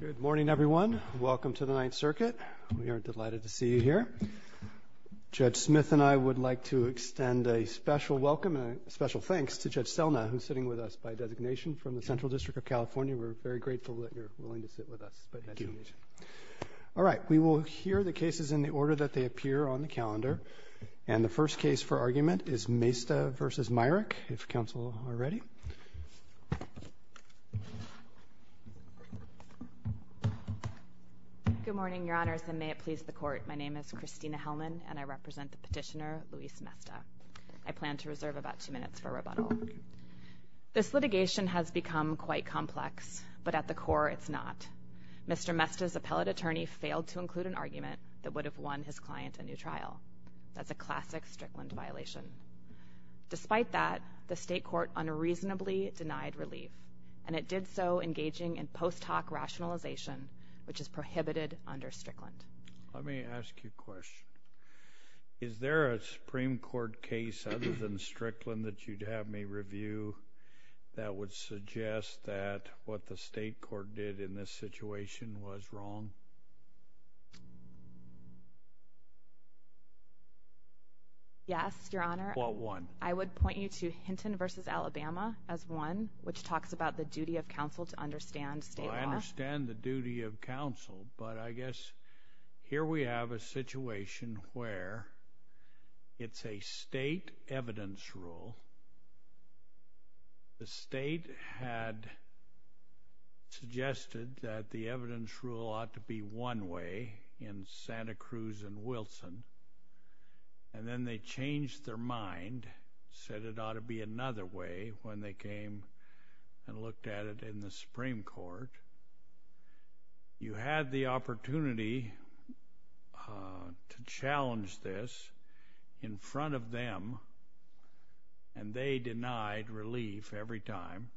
Good morning, everyone. Welcome to the Ninth Circuit. We are delighted to see you here. Judge Smith and I would like to extend a special welcome and a special thanks to Judge Selna, who's sitting with us by designation from the Central District of California. We're very grateful that you're willing to sit with us. All right, we will hear the cases in the order that they appear on the calendar, and the first case for argument is Mesta v. Myrick, if you will. Good morning, Your Honors, and may it please the Court. My name is Christina Hellman, and I represent the petitioner, Luis Mesta. I plan to reserve about two minutes for rebuttal. This litigation has become quite complex, but at the core, it's not. Mr. Mesta's appellate attorney failed to include an argument that would have won his client a new trial. That's a classic Strickland violation. Despite that, the state court unreasonably denied relief, and it did so engaging in post hoc rationalization, which is prohibited under Strickland. Let me ask you a question. Is there a Supreme Court case other than Strickland that you'd have me review that would suggest that what the state court did in this situation was wrong? Yes, Your Honor. What one? I would point you to Hinton v. Alabama as one, which talks about the duty of counsel to understand state law. I understand the duty of counsel, but I guess here we have a situation where it's a state evidence rule. The state had suggested that the evidence rule ought to be one way in Santa Cruz and Wilson, and then they changed their mind, said it ought to be another way when they came and looked at it in the Supreme Court. You had the opportunity to challenge this in front of them, and they denied relief every time.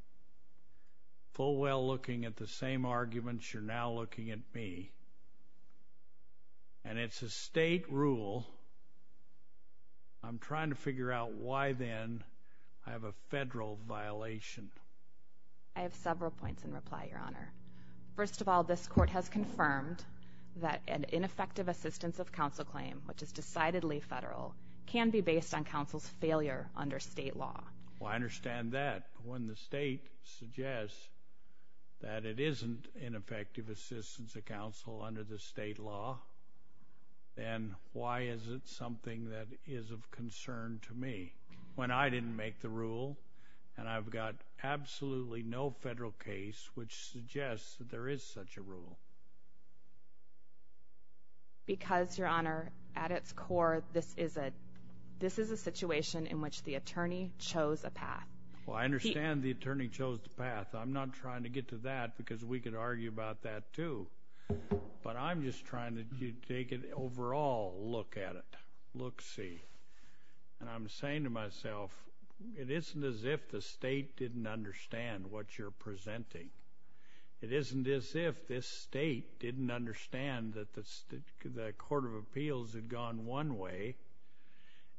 Full well looking at the same arguments, you're now looking at me. And it's a state rule. I'm trying to figure out why then I have a federal violation. I have several points in reply, Your Honor. First of all, this state has affirmed that an ineffective assistance of counsel claim, which is decidedly federal, can be based on counsel's failure under state law. Well, I understand that, but when the state suggests that it isn't ineffective assistance of counsel under the state law, then why is it something that is of concern to me? When I didn't make the rule, and I've got absolutely no federal case which suggests that there is such a rule. Because, Your Honor, at its core, this is a situation in which the attorney chose a path. Well, I understand the attorney chose the path. I'm not trying to get to that because we could argue about that, too, but I'm just trying to take an overall look at it, look-see. And I'm saying to myself, it isn't as if the state didn't understand what you're presenting. It isn't as if this state didn't understand that the Court of Appeals had gone one way,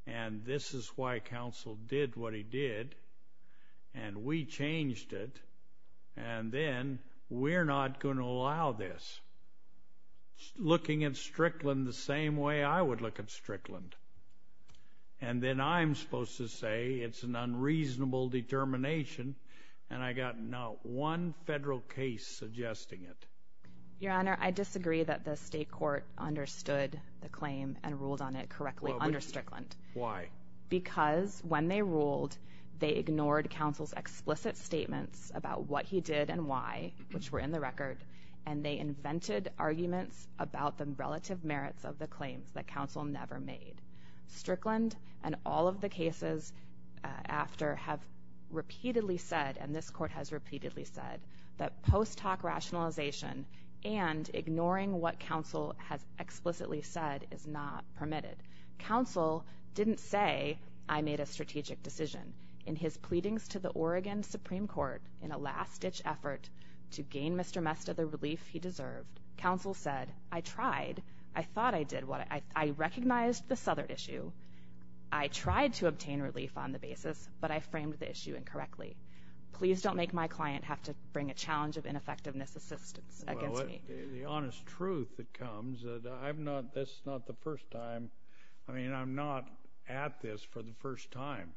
and this is why counsel did what he did, and we changed it, and then we're not going to allow this. Looking at Strickland the same way I would look at Strickland. And then I'm supposed to say it's an out-and-out one federal case suggesting it. Your Honor, I disagree that the state court understood the claim and ruled on it correctly under Strickland. Why? Because when they ruled, they ignored counsel's explicit statements about what he did and why, which were in the record, and they invented arguments about the relative merits of the claims that counsel never made. Strickland and all of the cases after have repeatedly said, and this court has repeatedly said, that post hoc rationalization and ignoring what counsel has explicitly said is not permitted. Counsel didn't say, I made a strategic decision. In his pleadings to the Oregon Supreme Court in a last-ditch effort to gain Mr. Mesta the relief he deserved, counsel said, I tried, I thought I did what I, I recognized this other issue. I tried to obtain relief on the basis, but I framed the issue incorrectly. Please don't make my client have to bring a challenge of ineffectiveness assistance against me. The honest truth that comes, that I'm not, that's not the first time, I mean, I'm not at this for the first time.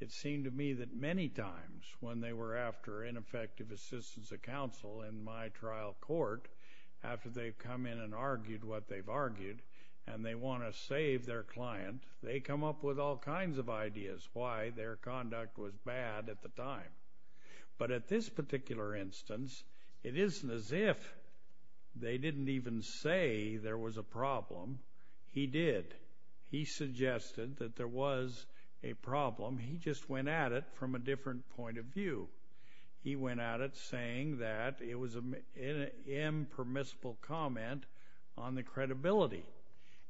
It seemed to me that many times when they were after ineffective assistance of counsel in my trial court, after they've come in and argued what they've argued, and they want to save their client, they come up with all kinds of ideas why their conduct was bad at the time. But at this particular instance, it isn't as if they didn't even say there was a problem. He did. He suggested that there was a problem. He just went at it from a different point of view. He went at it saying that it was an impermissible comment on the credibility.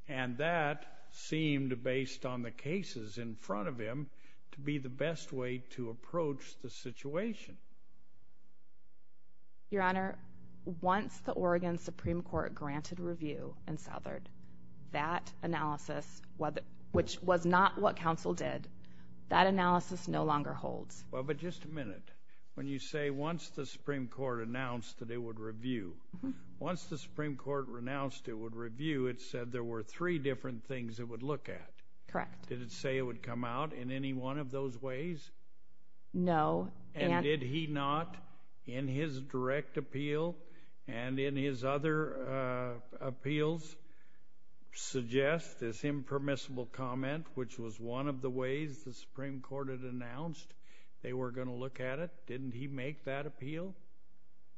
And that seemed, based on the cases in front of him, to be the best way to approach the situation. Your Honor, once the Oregon Supreme Court granted review in Southard, that analysis, which was not what counsel did, that analysis no longer holds. Well, but just a minute. When you say once the Supreme Court announced that it would review, once the Supreme Court renounced it would review, it said there were three different things it would look at. Correct. Did it say it would come out in any one of those ways? No. And did he not, in his direct appeal and in his other appeals, suggest this impermissible comment, which was one of the ways the they were going to look at it? Didn't he make that appeal?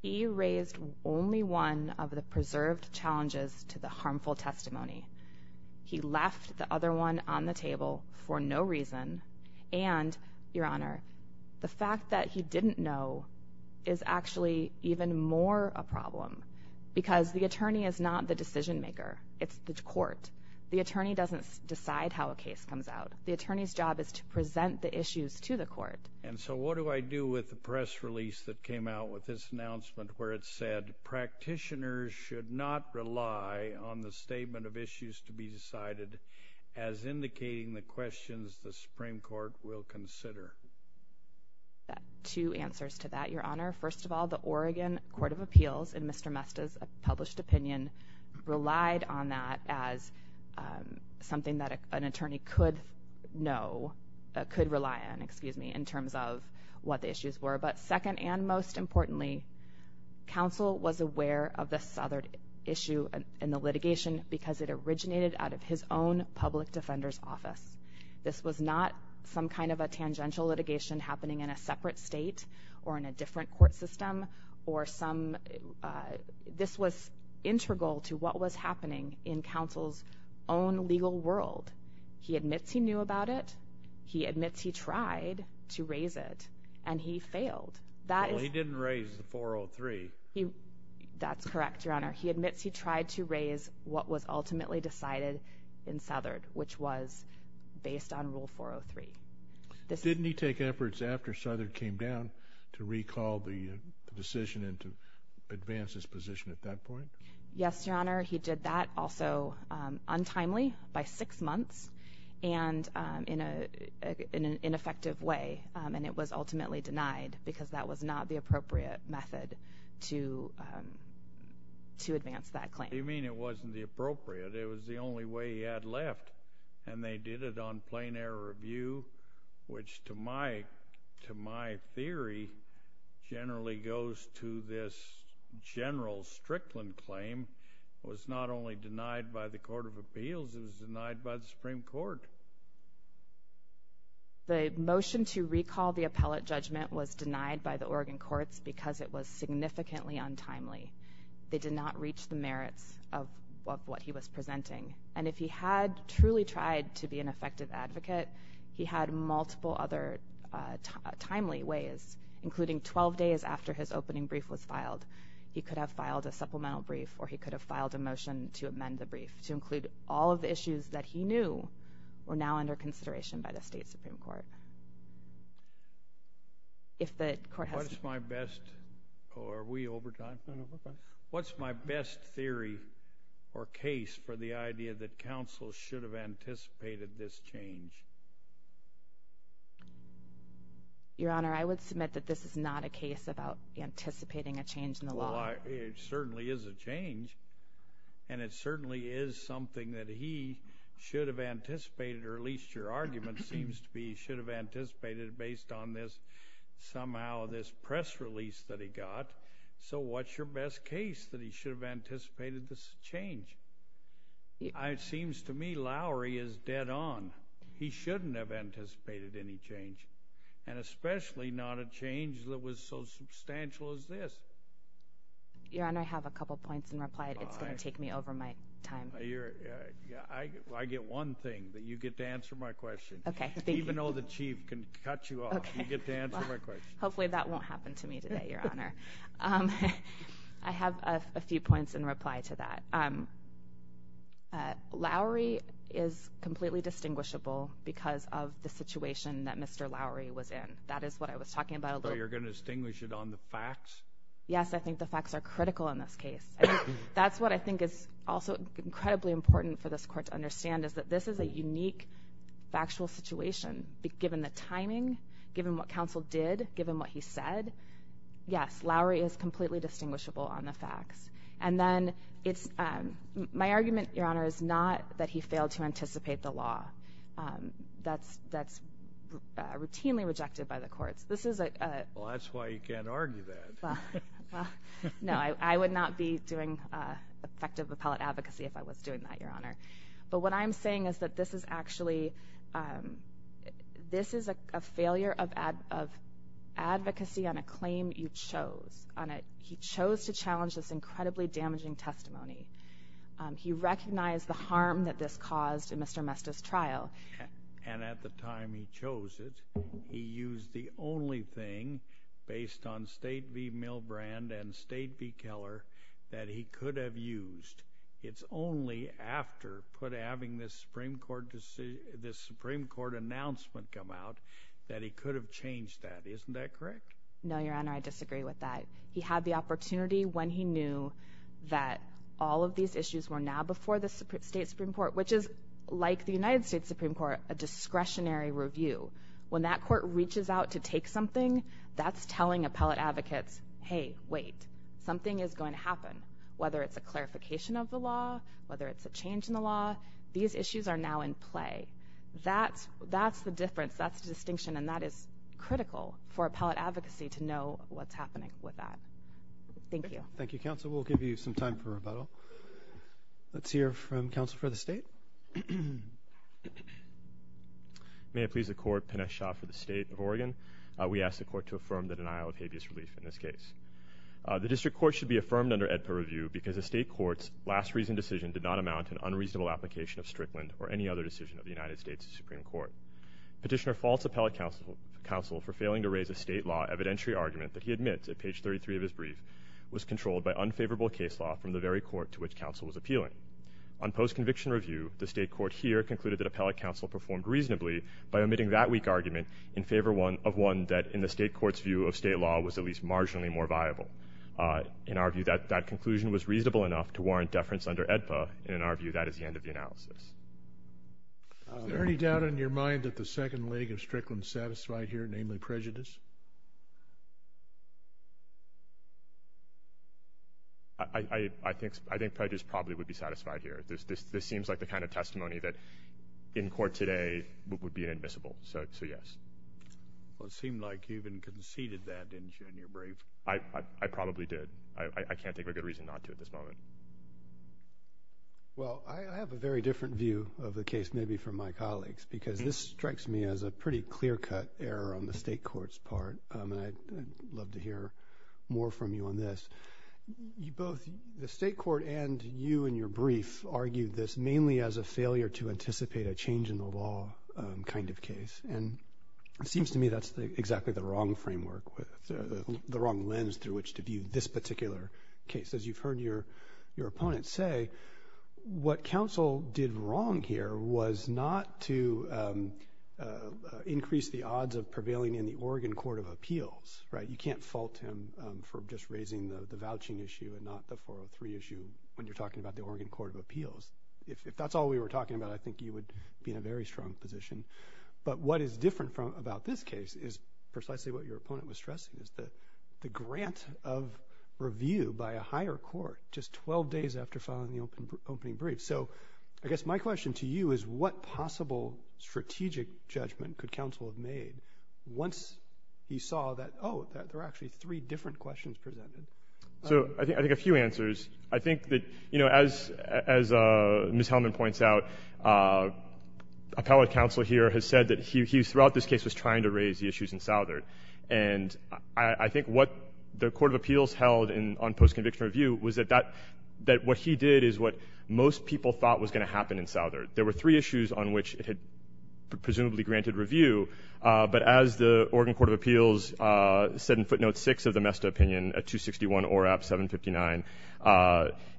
He raised only one of the preserved challenges to the harmful testimony. He left the other one on the table for no reason. And, Your Honor, the fact that he didn't know is actually even more a problem because the attorney is not the decision maker. It's the court. The attorney doesn't decide how a case comes out. The attorney's job is to present the issues to the court. And so what do I do with the press release that came out with this announcement where it said practitioners should not rely on the statement of issues to be decided as indicating the questions the Supreme Court will consider? Two answers to that, Your Honor. First of all, the Oregon Court of Appeals and Mr. Mesta's published opinion relied on that as something that an attorney could know, could rely on, excuse me, in terms of what the issues were. But second and most importantly, counsel was aware of the southern issue in the litigation because it originated out of his own public defender's office. This was not some kind of a tangential litigation happening in a separate state or in a different court system or some. Uh, this was integral to what was admits he knew about it. He admits he tried to raise it and he failed. That he didn't raise the 403. That's correct, Your Honor. He admits he tried to raise what was ultimately decided in Southern, which was based on Rule 403. Didn't he take efforts after Southern came down to recall the decision into advance his position at that point? Yes, Your Honor. He did that also untimely by six months and in a in an ineffective way, and it was ultimately denied because that was not the appropriate method to, um, to advance that claim. You mean it wasn't the appropriate? It was the only way he had left, and they did it on plain error of you, which to my to my theory generally goes to this general Strickland claim was not only denied by the Court of Appeals is denied by the Supreme Court. The motion to recall the appellate judgment was denied by the Oregon courts because it was significantly untimely. They did not reach the merits of what he was presenting, and if he had truly tried to be an effective advocate, he had multiple other timely ways, including 12 days after his opening brief was filed. He could have filed a supplemental brief, or he could have filed a motion to amend the brief to include all of the issues that he knew were now under consideration by the state Supreme Court. If the court has my best or we overtime, what's my best theory or case for the idea that counsel should have anticipated this change? Your Honor, I would submit that this is not a case about anticipating a change in the law. It certainly is a change, and it certainly is something that he should have anticipated, or at least your argument seems to be should have anticipated based on this. Somehow this press release that he got. So what's your best case that he should have anticipated this change? It seems to me Lowry is dead on. He shouldn't have anticipated any change and especially not a change that was so substantial as this. Your Honor, I have a couple points in reply. It's going to take me over my time. I get one thing that you get to answer my question, even though the chief can cut you off, you get to answer my question. Hopefully that won't happen to me today, Your Honor. Um, I have a few points in reply to that. Um, Lowry is completely distinguishable because of the situation that Mr Lowry was in. That is what I was talking about. You're gonna distinguish it on the facts. Yes, I think the facts are critical in this case. That's what I think is also incredibly important for this court to understand is that this is a unique factual situation. Given the timing, given what counsel did, given what he said, yes, Lowry is completely distinguishable on the facts. And then it's my argument, Your Honor, is not that he failed to anticipate the law. Um, that's that's routinely rejected by the courts. This is a well, that's why you can't argue that. No, I would not be doing effective appellate advocacy if I was doing that, Your Honor. But what I'm saying is that this is actually, um, this is a failure of of advocacy on a claim you chose on it. He chose to challenge this incredibly damaging testimony. He recognized the harm that this caused in Mr Mesta's trial, and at the time he chose it, he used the only thing based on State v. Milbrand and State v. Keller that he could have used. It's only after put having this Supreme Court to see this Supreme Court announcement come out that he could have changed that. Isn't that correct? No, Your Honor, I disagree with that. He had the opportunity when he knew that all of these issues were now before the State Supreme Court, which is like the United States Supreme Court, a discretionary review. When that court reaches out to take something that's telling appellate advocates, Hey, wait, something is going to happen. Whether it's a clarification of the law, whether it's a change in the law, these issues are now in play. That's that's the difference. That's the distinction, and that is critical for appellate advocacy to know what's happening with that. Thank you. Thank you, Counsel. We'll give you some time for rebuttal. Let's hear from counsel for the state. May it please the court. Pinesh Shah for the state of Oregon. We asked the court to affirm the denial of habeas relief in this case. The district court should be affirmed under Edpa review because the state court's last reason decision did not amount to an unreasonable application of Strickland or any other decision of the United States Supreme Court. Petitioner false appellate counsel counsel for failing to raise a state law evidentiary argument that he admits at page 33 of his brief was controlled by unfavorable case law from the very court to which counsel was appealing. On post conviction review, the state court here concluded that appellate counsel performed reasonably by omitting that week argument in favor one of one that in the state court's view of state law was at least marginally more viable. Uh, in our view, that that conclusion was reasonable enough to warrant deference under Edpa. In our view, that is the end of the analysis. Is there any doubt in your mind that the Second League of Strickland satisfied here, namely prejudice? I think I think prejudice probably would be satisfied here. This seems like the kind of testimony that in court today would be an admissible. So yes, it seemed like you even conceded that didn't you in your brief? I probably did. I can't think of a good reason not to at this moment. Well, I have a very different view of the case, maybe from my colleagues, because this strikes me as a pretty clear cut error on the state court's part. I'd love to hear more from you on this. You both the state court and you and your brief argued this mainly as a failure to anticipate a change in the law kind of case. And it seems to me that's exactly the wrong framework, the wrong lens through which to view this particular case. As you've heard your opponent say, what counsel did wrong here was not to increase the odds of prevailing in the Oregon Court of Appeals. You can't fault him for just raising the vouching issue and not the 403 issue when you're talking about the Oregon Court of Appeals. If that's all we were talking about, I think you would be in a very strong position. But what is different about this case is precisely what your opponent was stressing, is that the grant of review by a higher court just 12 days after filing the opening brief. So I guess my question to you is, what possible strategic judgment could counsel have made once he saw that, oh, there are actually three different questions presented? So I think a few answers. I think that, as Ms. Hellman points out, appellate counsel here has said that he, throughout this case, was trying to raise the issues in Southard. And I think what the Court of Appeals held on post-conviction review was that what he did is what most people thought was gonna happen in Southard. There were three issues on which it had presumably granted review, but as the Oregon Court of Appeals said in footnote six of the Mesta opinion at 261 ORAP 759,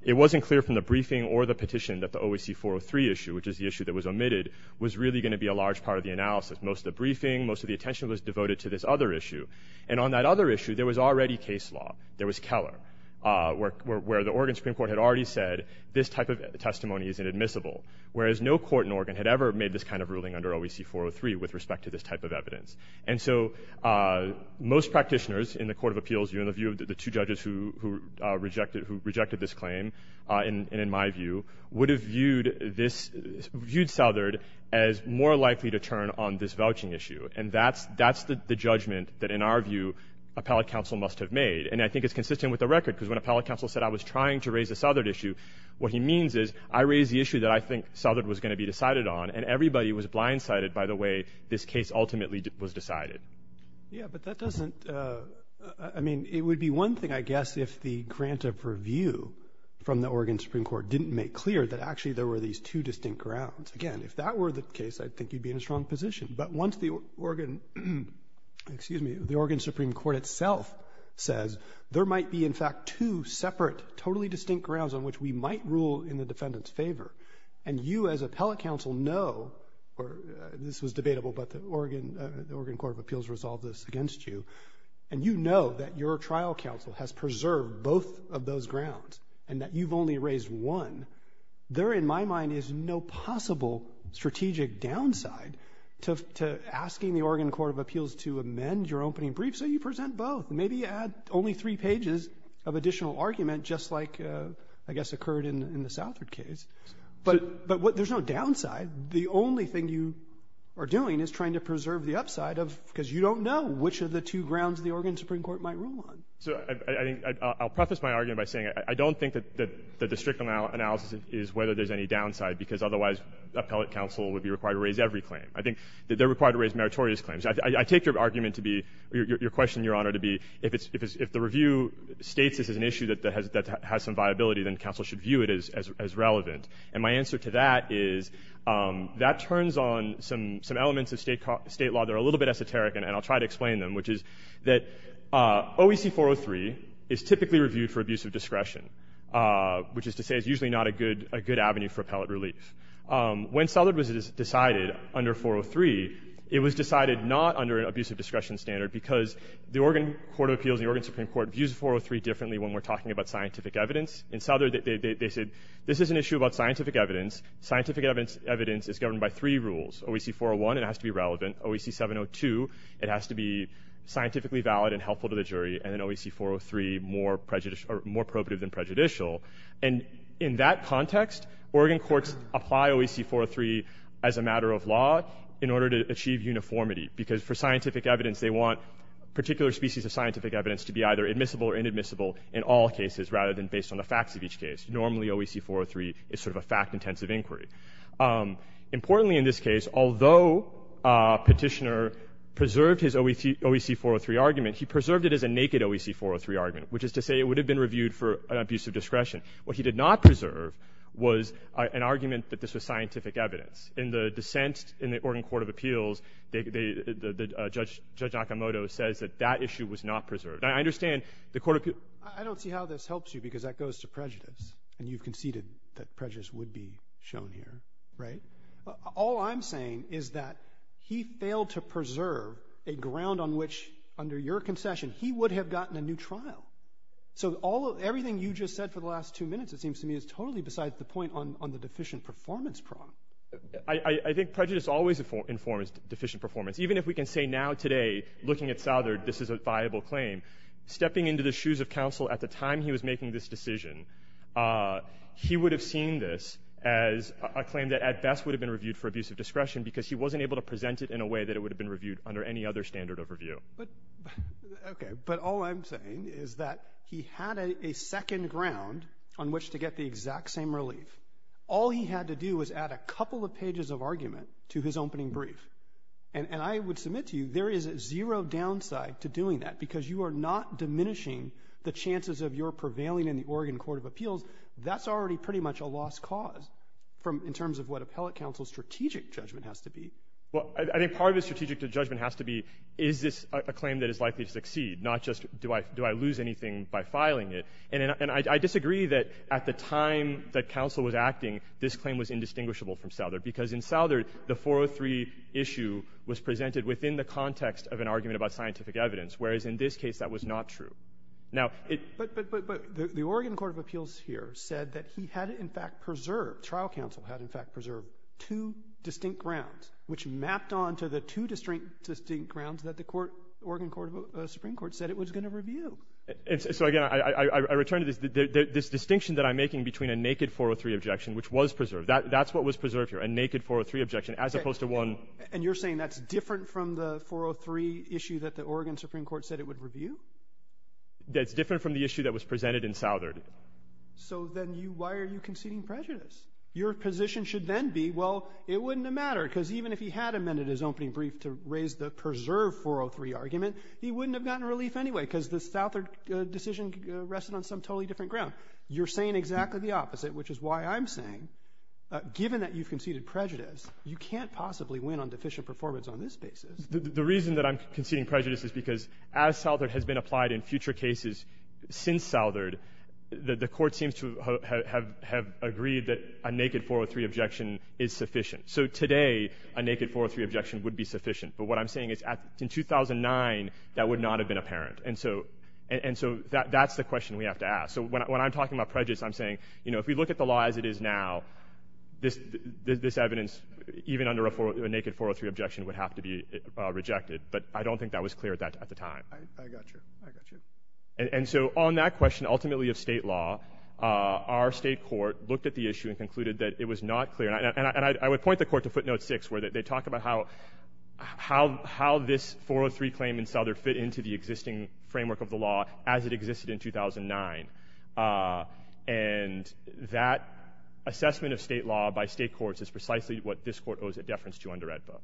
it wasn't clear from the briefing or the petition that the OAC 403 issue, which is the issue that was omitted, was really gonna be a large part of the analysis. Most of the briefing, most of the attention was devoted to this other issue. And on that other issue, there was already case law. There was Keller, where the Oregon Supreme Court had already said, this type of testimony isn't admissible, whereas no court in Oregon had ever made this kind of ruling under OAC 403 with respect to this type of evidence. And so most practitioners in the Court of Appeals, in the view of the two judges who rejected this claim, and in my view, would have viewed Southard as more likely to turn on this vouching issue. And that's the judgment that, in our view, Appellate Counsel must have made. And I think it's consistent with the record, because when Appellate Counsel said, I was trying to raise a Southard issue, what he means is, I raised the issue that I think Southard was gonna be decided on, and everybody was blindsided by the way this case ultimately was decided. Yeah, but that doesn't... It would be one thing, I guess, if the grant of review from the Oregon Supreme Court didn't make clear that actually there were these two distinct grounds. Again, if that were the case, I think you'd be in a strong position. But once the Oregon... Excuse me, the Oregon Supreme Court itself says, there might be, in fact, two separate, totally distinct grounds on which we might rule in the defendant's favor, and you as Appellate Counsel know, or this was debatable, but the Oregon Court of Appeals resolved this against you, and you know that your trial counsel has preserved both of those grounds, and that you've only raised one. There, in my mind, is no possible strategic downside to asking the Oregon Court of Appeals to amend your opening brief, so you present both. Maybe you add only three pages of additional argument, just like, I guess, occurred in the Southard case. But there's no downside. The only thing you are doing is trying to preserve the upside of... Because you don't know which of the two grounds the Oregon Supreme Court might rule on. So I think I'll preface my argument by saying, I don't think that the strict analysis is whether there's any downside, because otherwise, Appellate Counsel would be required to raise every claim. I think that they're required to raise meritorious claims. I take your argument to be, or your question, Your Honor, to be, if the review states this is an issue that has some viability, then counsel should view it as relevant. And my answer to that is, that turns on some elements of state law that are a little bit esoteric, and I'll try to explain them, which is that OEC-403 is typically reviewed for abuse of discretion, which is to say, it's usually not a good avenue for appellate relief. When Southard was decided under 403, it was decided not under an abuse of discretion standard, because the Oregon Court of Appeals and the Oregon Supreme Court views 403 differently when we're talking about scientific evidence. In Southard, they said, this is an issue about scientific evidence. Scientific evidence is governed by three rules. OEC-401, it has to be relevant. OEC-702, it has to be scientifically valid and helpful to the jury. And then OEC-403, more prohibitive than prejudicial. And in that context, Oregon courts apply OEC-403 as a matter of law in order to achieve uniformity, because for scientific evidence, they want particular species of scientific evidence to be either admissible or inadmissible in all cases, rather than based on the facts of each case. Normally, OEC-403 is sort of a fact-intensive inquiry. Importantly, in this case, although Petitioner preserved his OEC-403 argument, he preserved it as a naked OEC-403 argument, which is to say it would have been reviewed for an abuse of discretion. What he did not preserve was an argument that this was scientific evidence. In the dissent in the Oregon Court of Appeals, Judge Nakamoto says that that issue was not preserved. I understand the Court of Appeals... I don't see how this helps you, because that goes to prejudice. And you've conceded that prejudice would be shown here, right? All I'm saying is that he failed to preserve a ground on which, under your concession, he would have gotten a new trial. So everything you just said for the last two minutes, it seems to me, is totally besides the point on the deficient performance problem. I think prejudice always informs deficient performance. Even if we can say now, today, looking at Southard, this is a viable claim, stepping into the shoes of counsel at the time he was making this decision, he would have seen this as a claim that, at best, would have been reviewed for abuse of discretion because he wasn't able to present it in a way that it would have been reviewed under any other standard of review. But, okay, but all I'm saying is that he had a second ground on which to get the exact same relief. All he had to do was add a couple of pages of argument to his opening brief. And I would submit to you, there is zero downside to doing that because you are not diminishing the chances of your prevailing in the Oregon Court of Appeals. That's already pretty much a lost cause from, in terms of what Well, I think part of the strategic judgment has to be, is this a claim that is likely to succeed? Not just, do I lose anything by filing it? And I disagree that, at the time that counsel was acting, this claim was indistinguishable from Southard because, in Southard, the 403 issue was presented within the context of an argument about scientific evidence, whereas, in this case, that was not true. Now, it But the Oregon Court of Appeals here said that he had, in fact, preserved, trial which mapped onto the two distinct grounds that the Oregon Supreme Court said it was going to review. So, again, I return to this distinction that I'm making between a naked 403 objection, which was preserved. That's what was preserved here, a naked 403 objection, as opposed to one And you're saying that's different from the 403 issue that the Oregon Supreme Court said it would review? That's different from the issue that was presented in Southard. So, then, why are you conceding prejudice? Your position should then be, well, it wouldn't have mattered, because even if he had amended his opening brief to raise the preserved 403 argument, he wouldn't have gotten relief anyway, because the Southard decision rested on some totally different ground. You're saying exactly the opposite, which is why I'm saying, given that you've conceded prejudice, you can't possibly win on deficient performance on this basis. The reason that I'm conceding prejudice is because, as Southard has been applied in future cases since Southard, the Court seems to have agreed that a naked 403 objection is sufficient. So, today, a naked 403 objection would be sufficient. But what I'm saying is, in 2009, that would not have been apparent. And so, that's the question we have to ask. So, when I'm talking about prejudice, I'm saying, you know, if we look at the law as it is now, this evidence, even under a naked 403 objection, would have to be rejected. But I don't think that was clear at the time. I got you. I got you. And so, on that question, ultimately of state law, our state court looked at the evidence, and it was not clear. And I would point the Court to footnote 6, where they talk about how this 403 claim in Southard fit into the existing framework of the law as it existed in 2009. And that assessment of state law by state courts is precisely what this Court owes a deference to under AEDPA.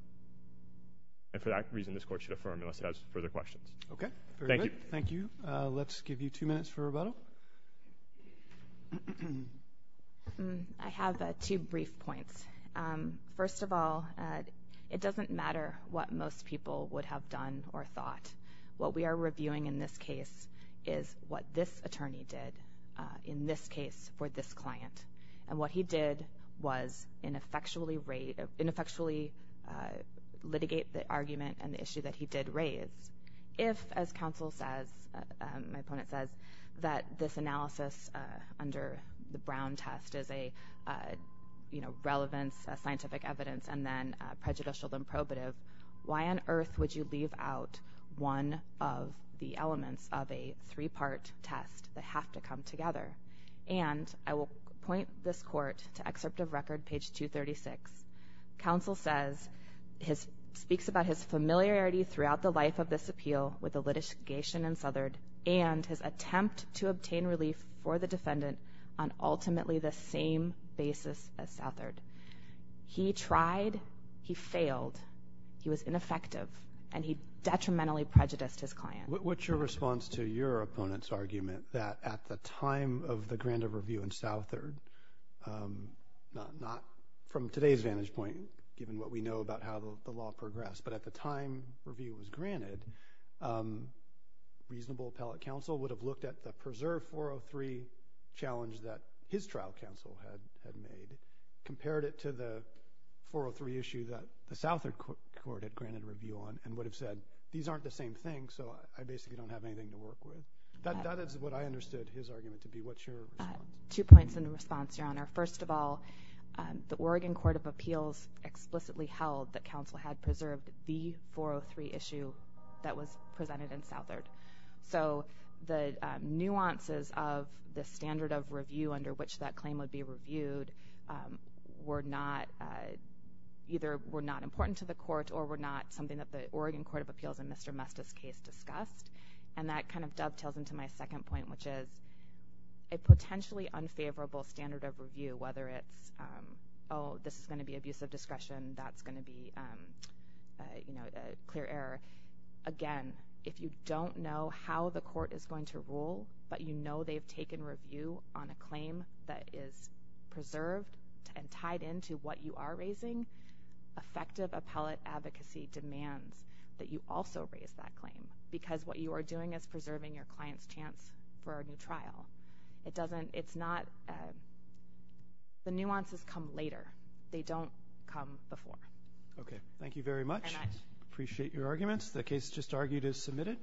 And, for that reason, this Court should affirm, unless it has further questions. Okay. Thank you. Thank you. Let's give you two minutes for rebuttal. I have two brief points. First of all, it doesn't matter what most people would have done or thought. What we are reviewing in this case is what this attorney did in this case for this client. And what he did was ineffectually litigate the argument and issue that he did raise. If, as this analysis, under the Brown test, is a, you know, relevant scientific evidence and then prejudicial and probative, why on earth would you leave out one of the elements of a three-part test that have to come together? And I will point this Court to Excerpt of Record, page 236. Counsel says, speaks about his familiarity throughout the life of this appeal with the litigation in Southard and his attempt to obtain relief for the defendant on ultimately the same basis as Southard. He tried, he failed, he was ineffective, and he detrimentally prejudiced his client. What's your response to your opponent's argument that at the time of the granted review in Southard, not from today's vantage point, given what we know about how the law progressed, but at the time review was granted, reasonable appellate counsel would have looked at the preserved 403 challenge that his trial counsel had made, compared it to the 403 issue that the Southard Court had granted review on, and would have said, these aren't the same thing, so I basically don't have anything to work with. That is what I understood his argument to be. What's your response? Two points in response, Your Honor. First of all, the Oregon Court of Appeals explicitly held that counsel had preserved the 403 issue that was presented in Southard. So the nuances of the standard of review under which that claim would be reviewed were not, either were not important to the court or were not something that the Oregon Court of Appeals in Mr. Mesta's case discussed. And that kind of dovetails into my second point, which is a potentially unfavorable standard of review, whether it's, oh, this is going to be abuse of discretion, that's going to be, you know, a clear error. Again, if you don't know how the court is going to rule, but you know they've taken review on a claim that is preserved and tied into what you are raising, effective appellate advocacy demands that you also raise that claim, because what you are doing is preserving your client's chance for a new trial. It doesn't, it's not, the nuances come later. They don't come before. Okay, thank you very much. Appreciate your arguments. The case just argued is submitted.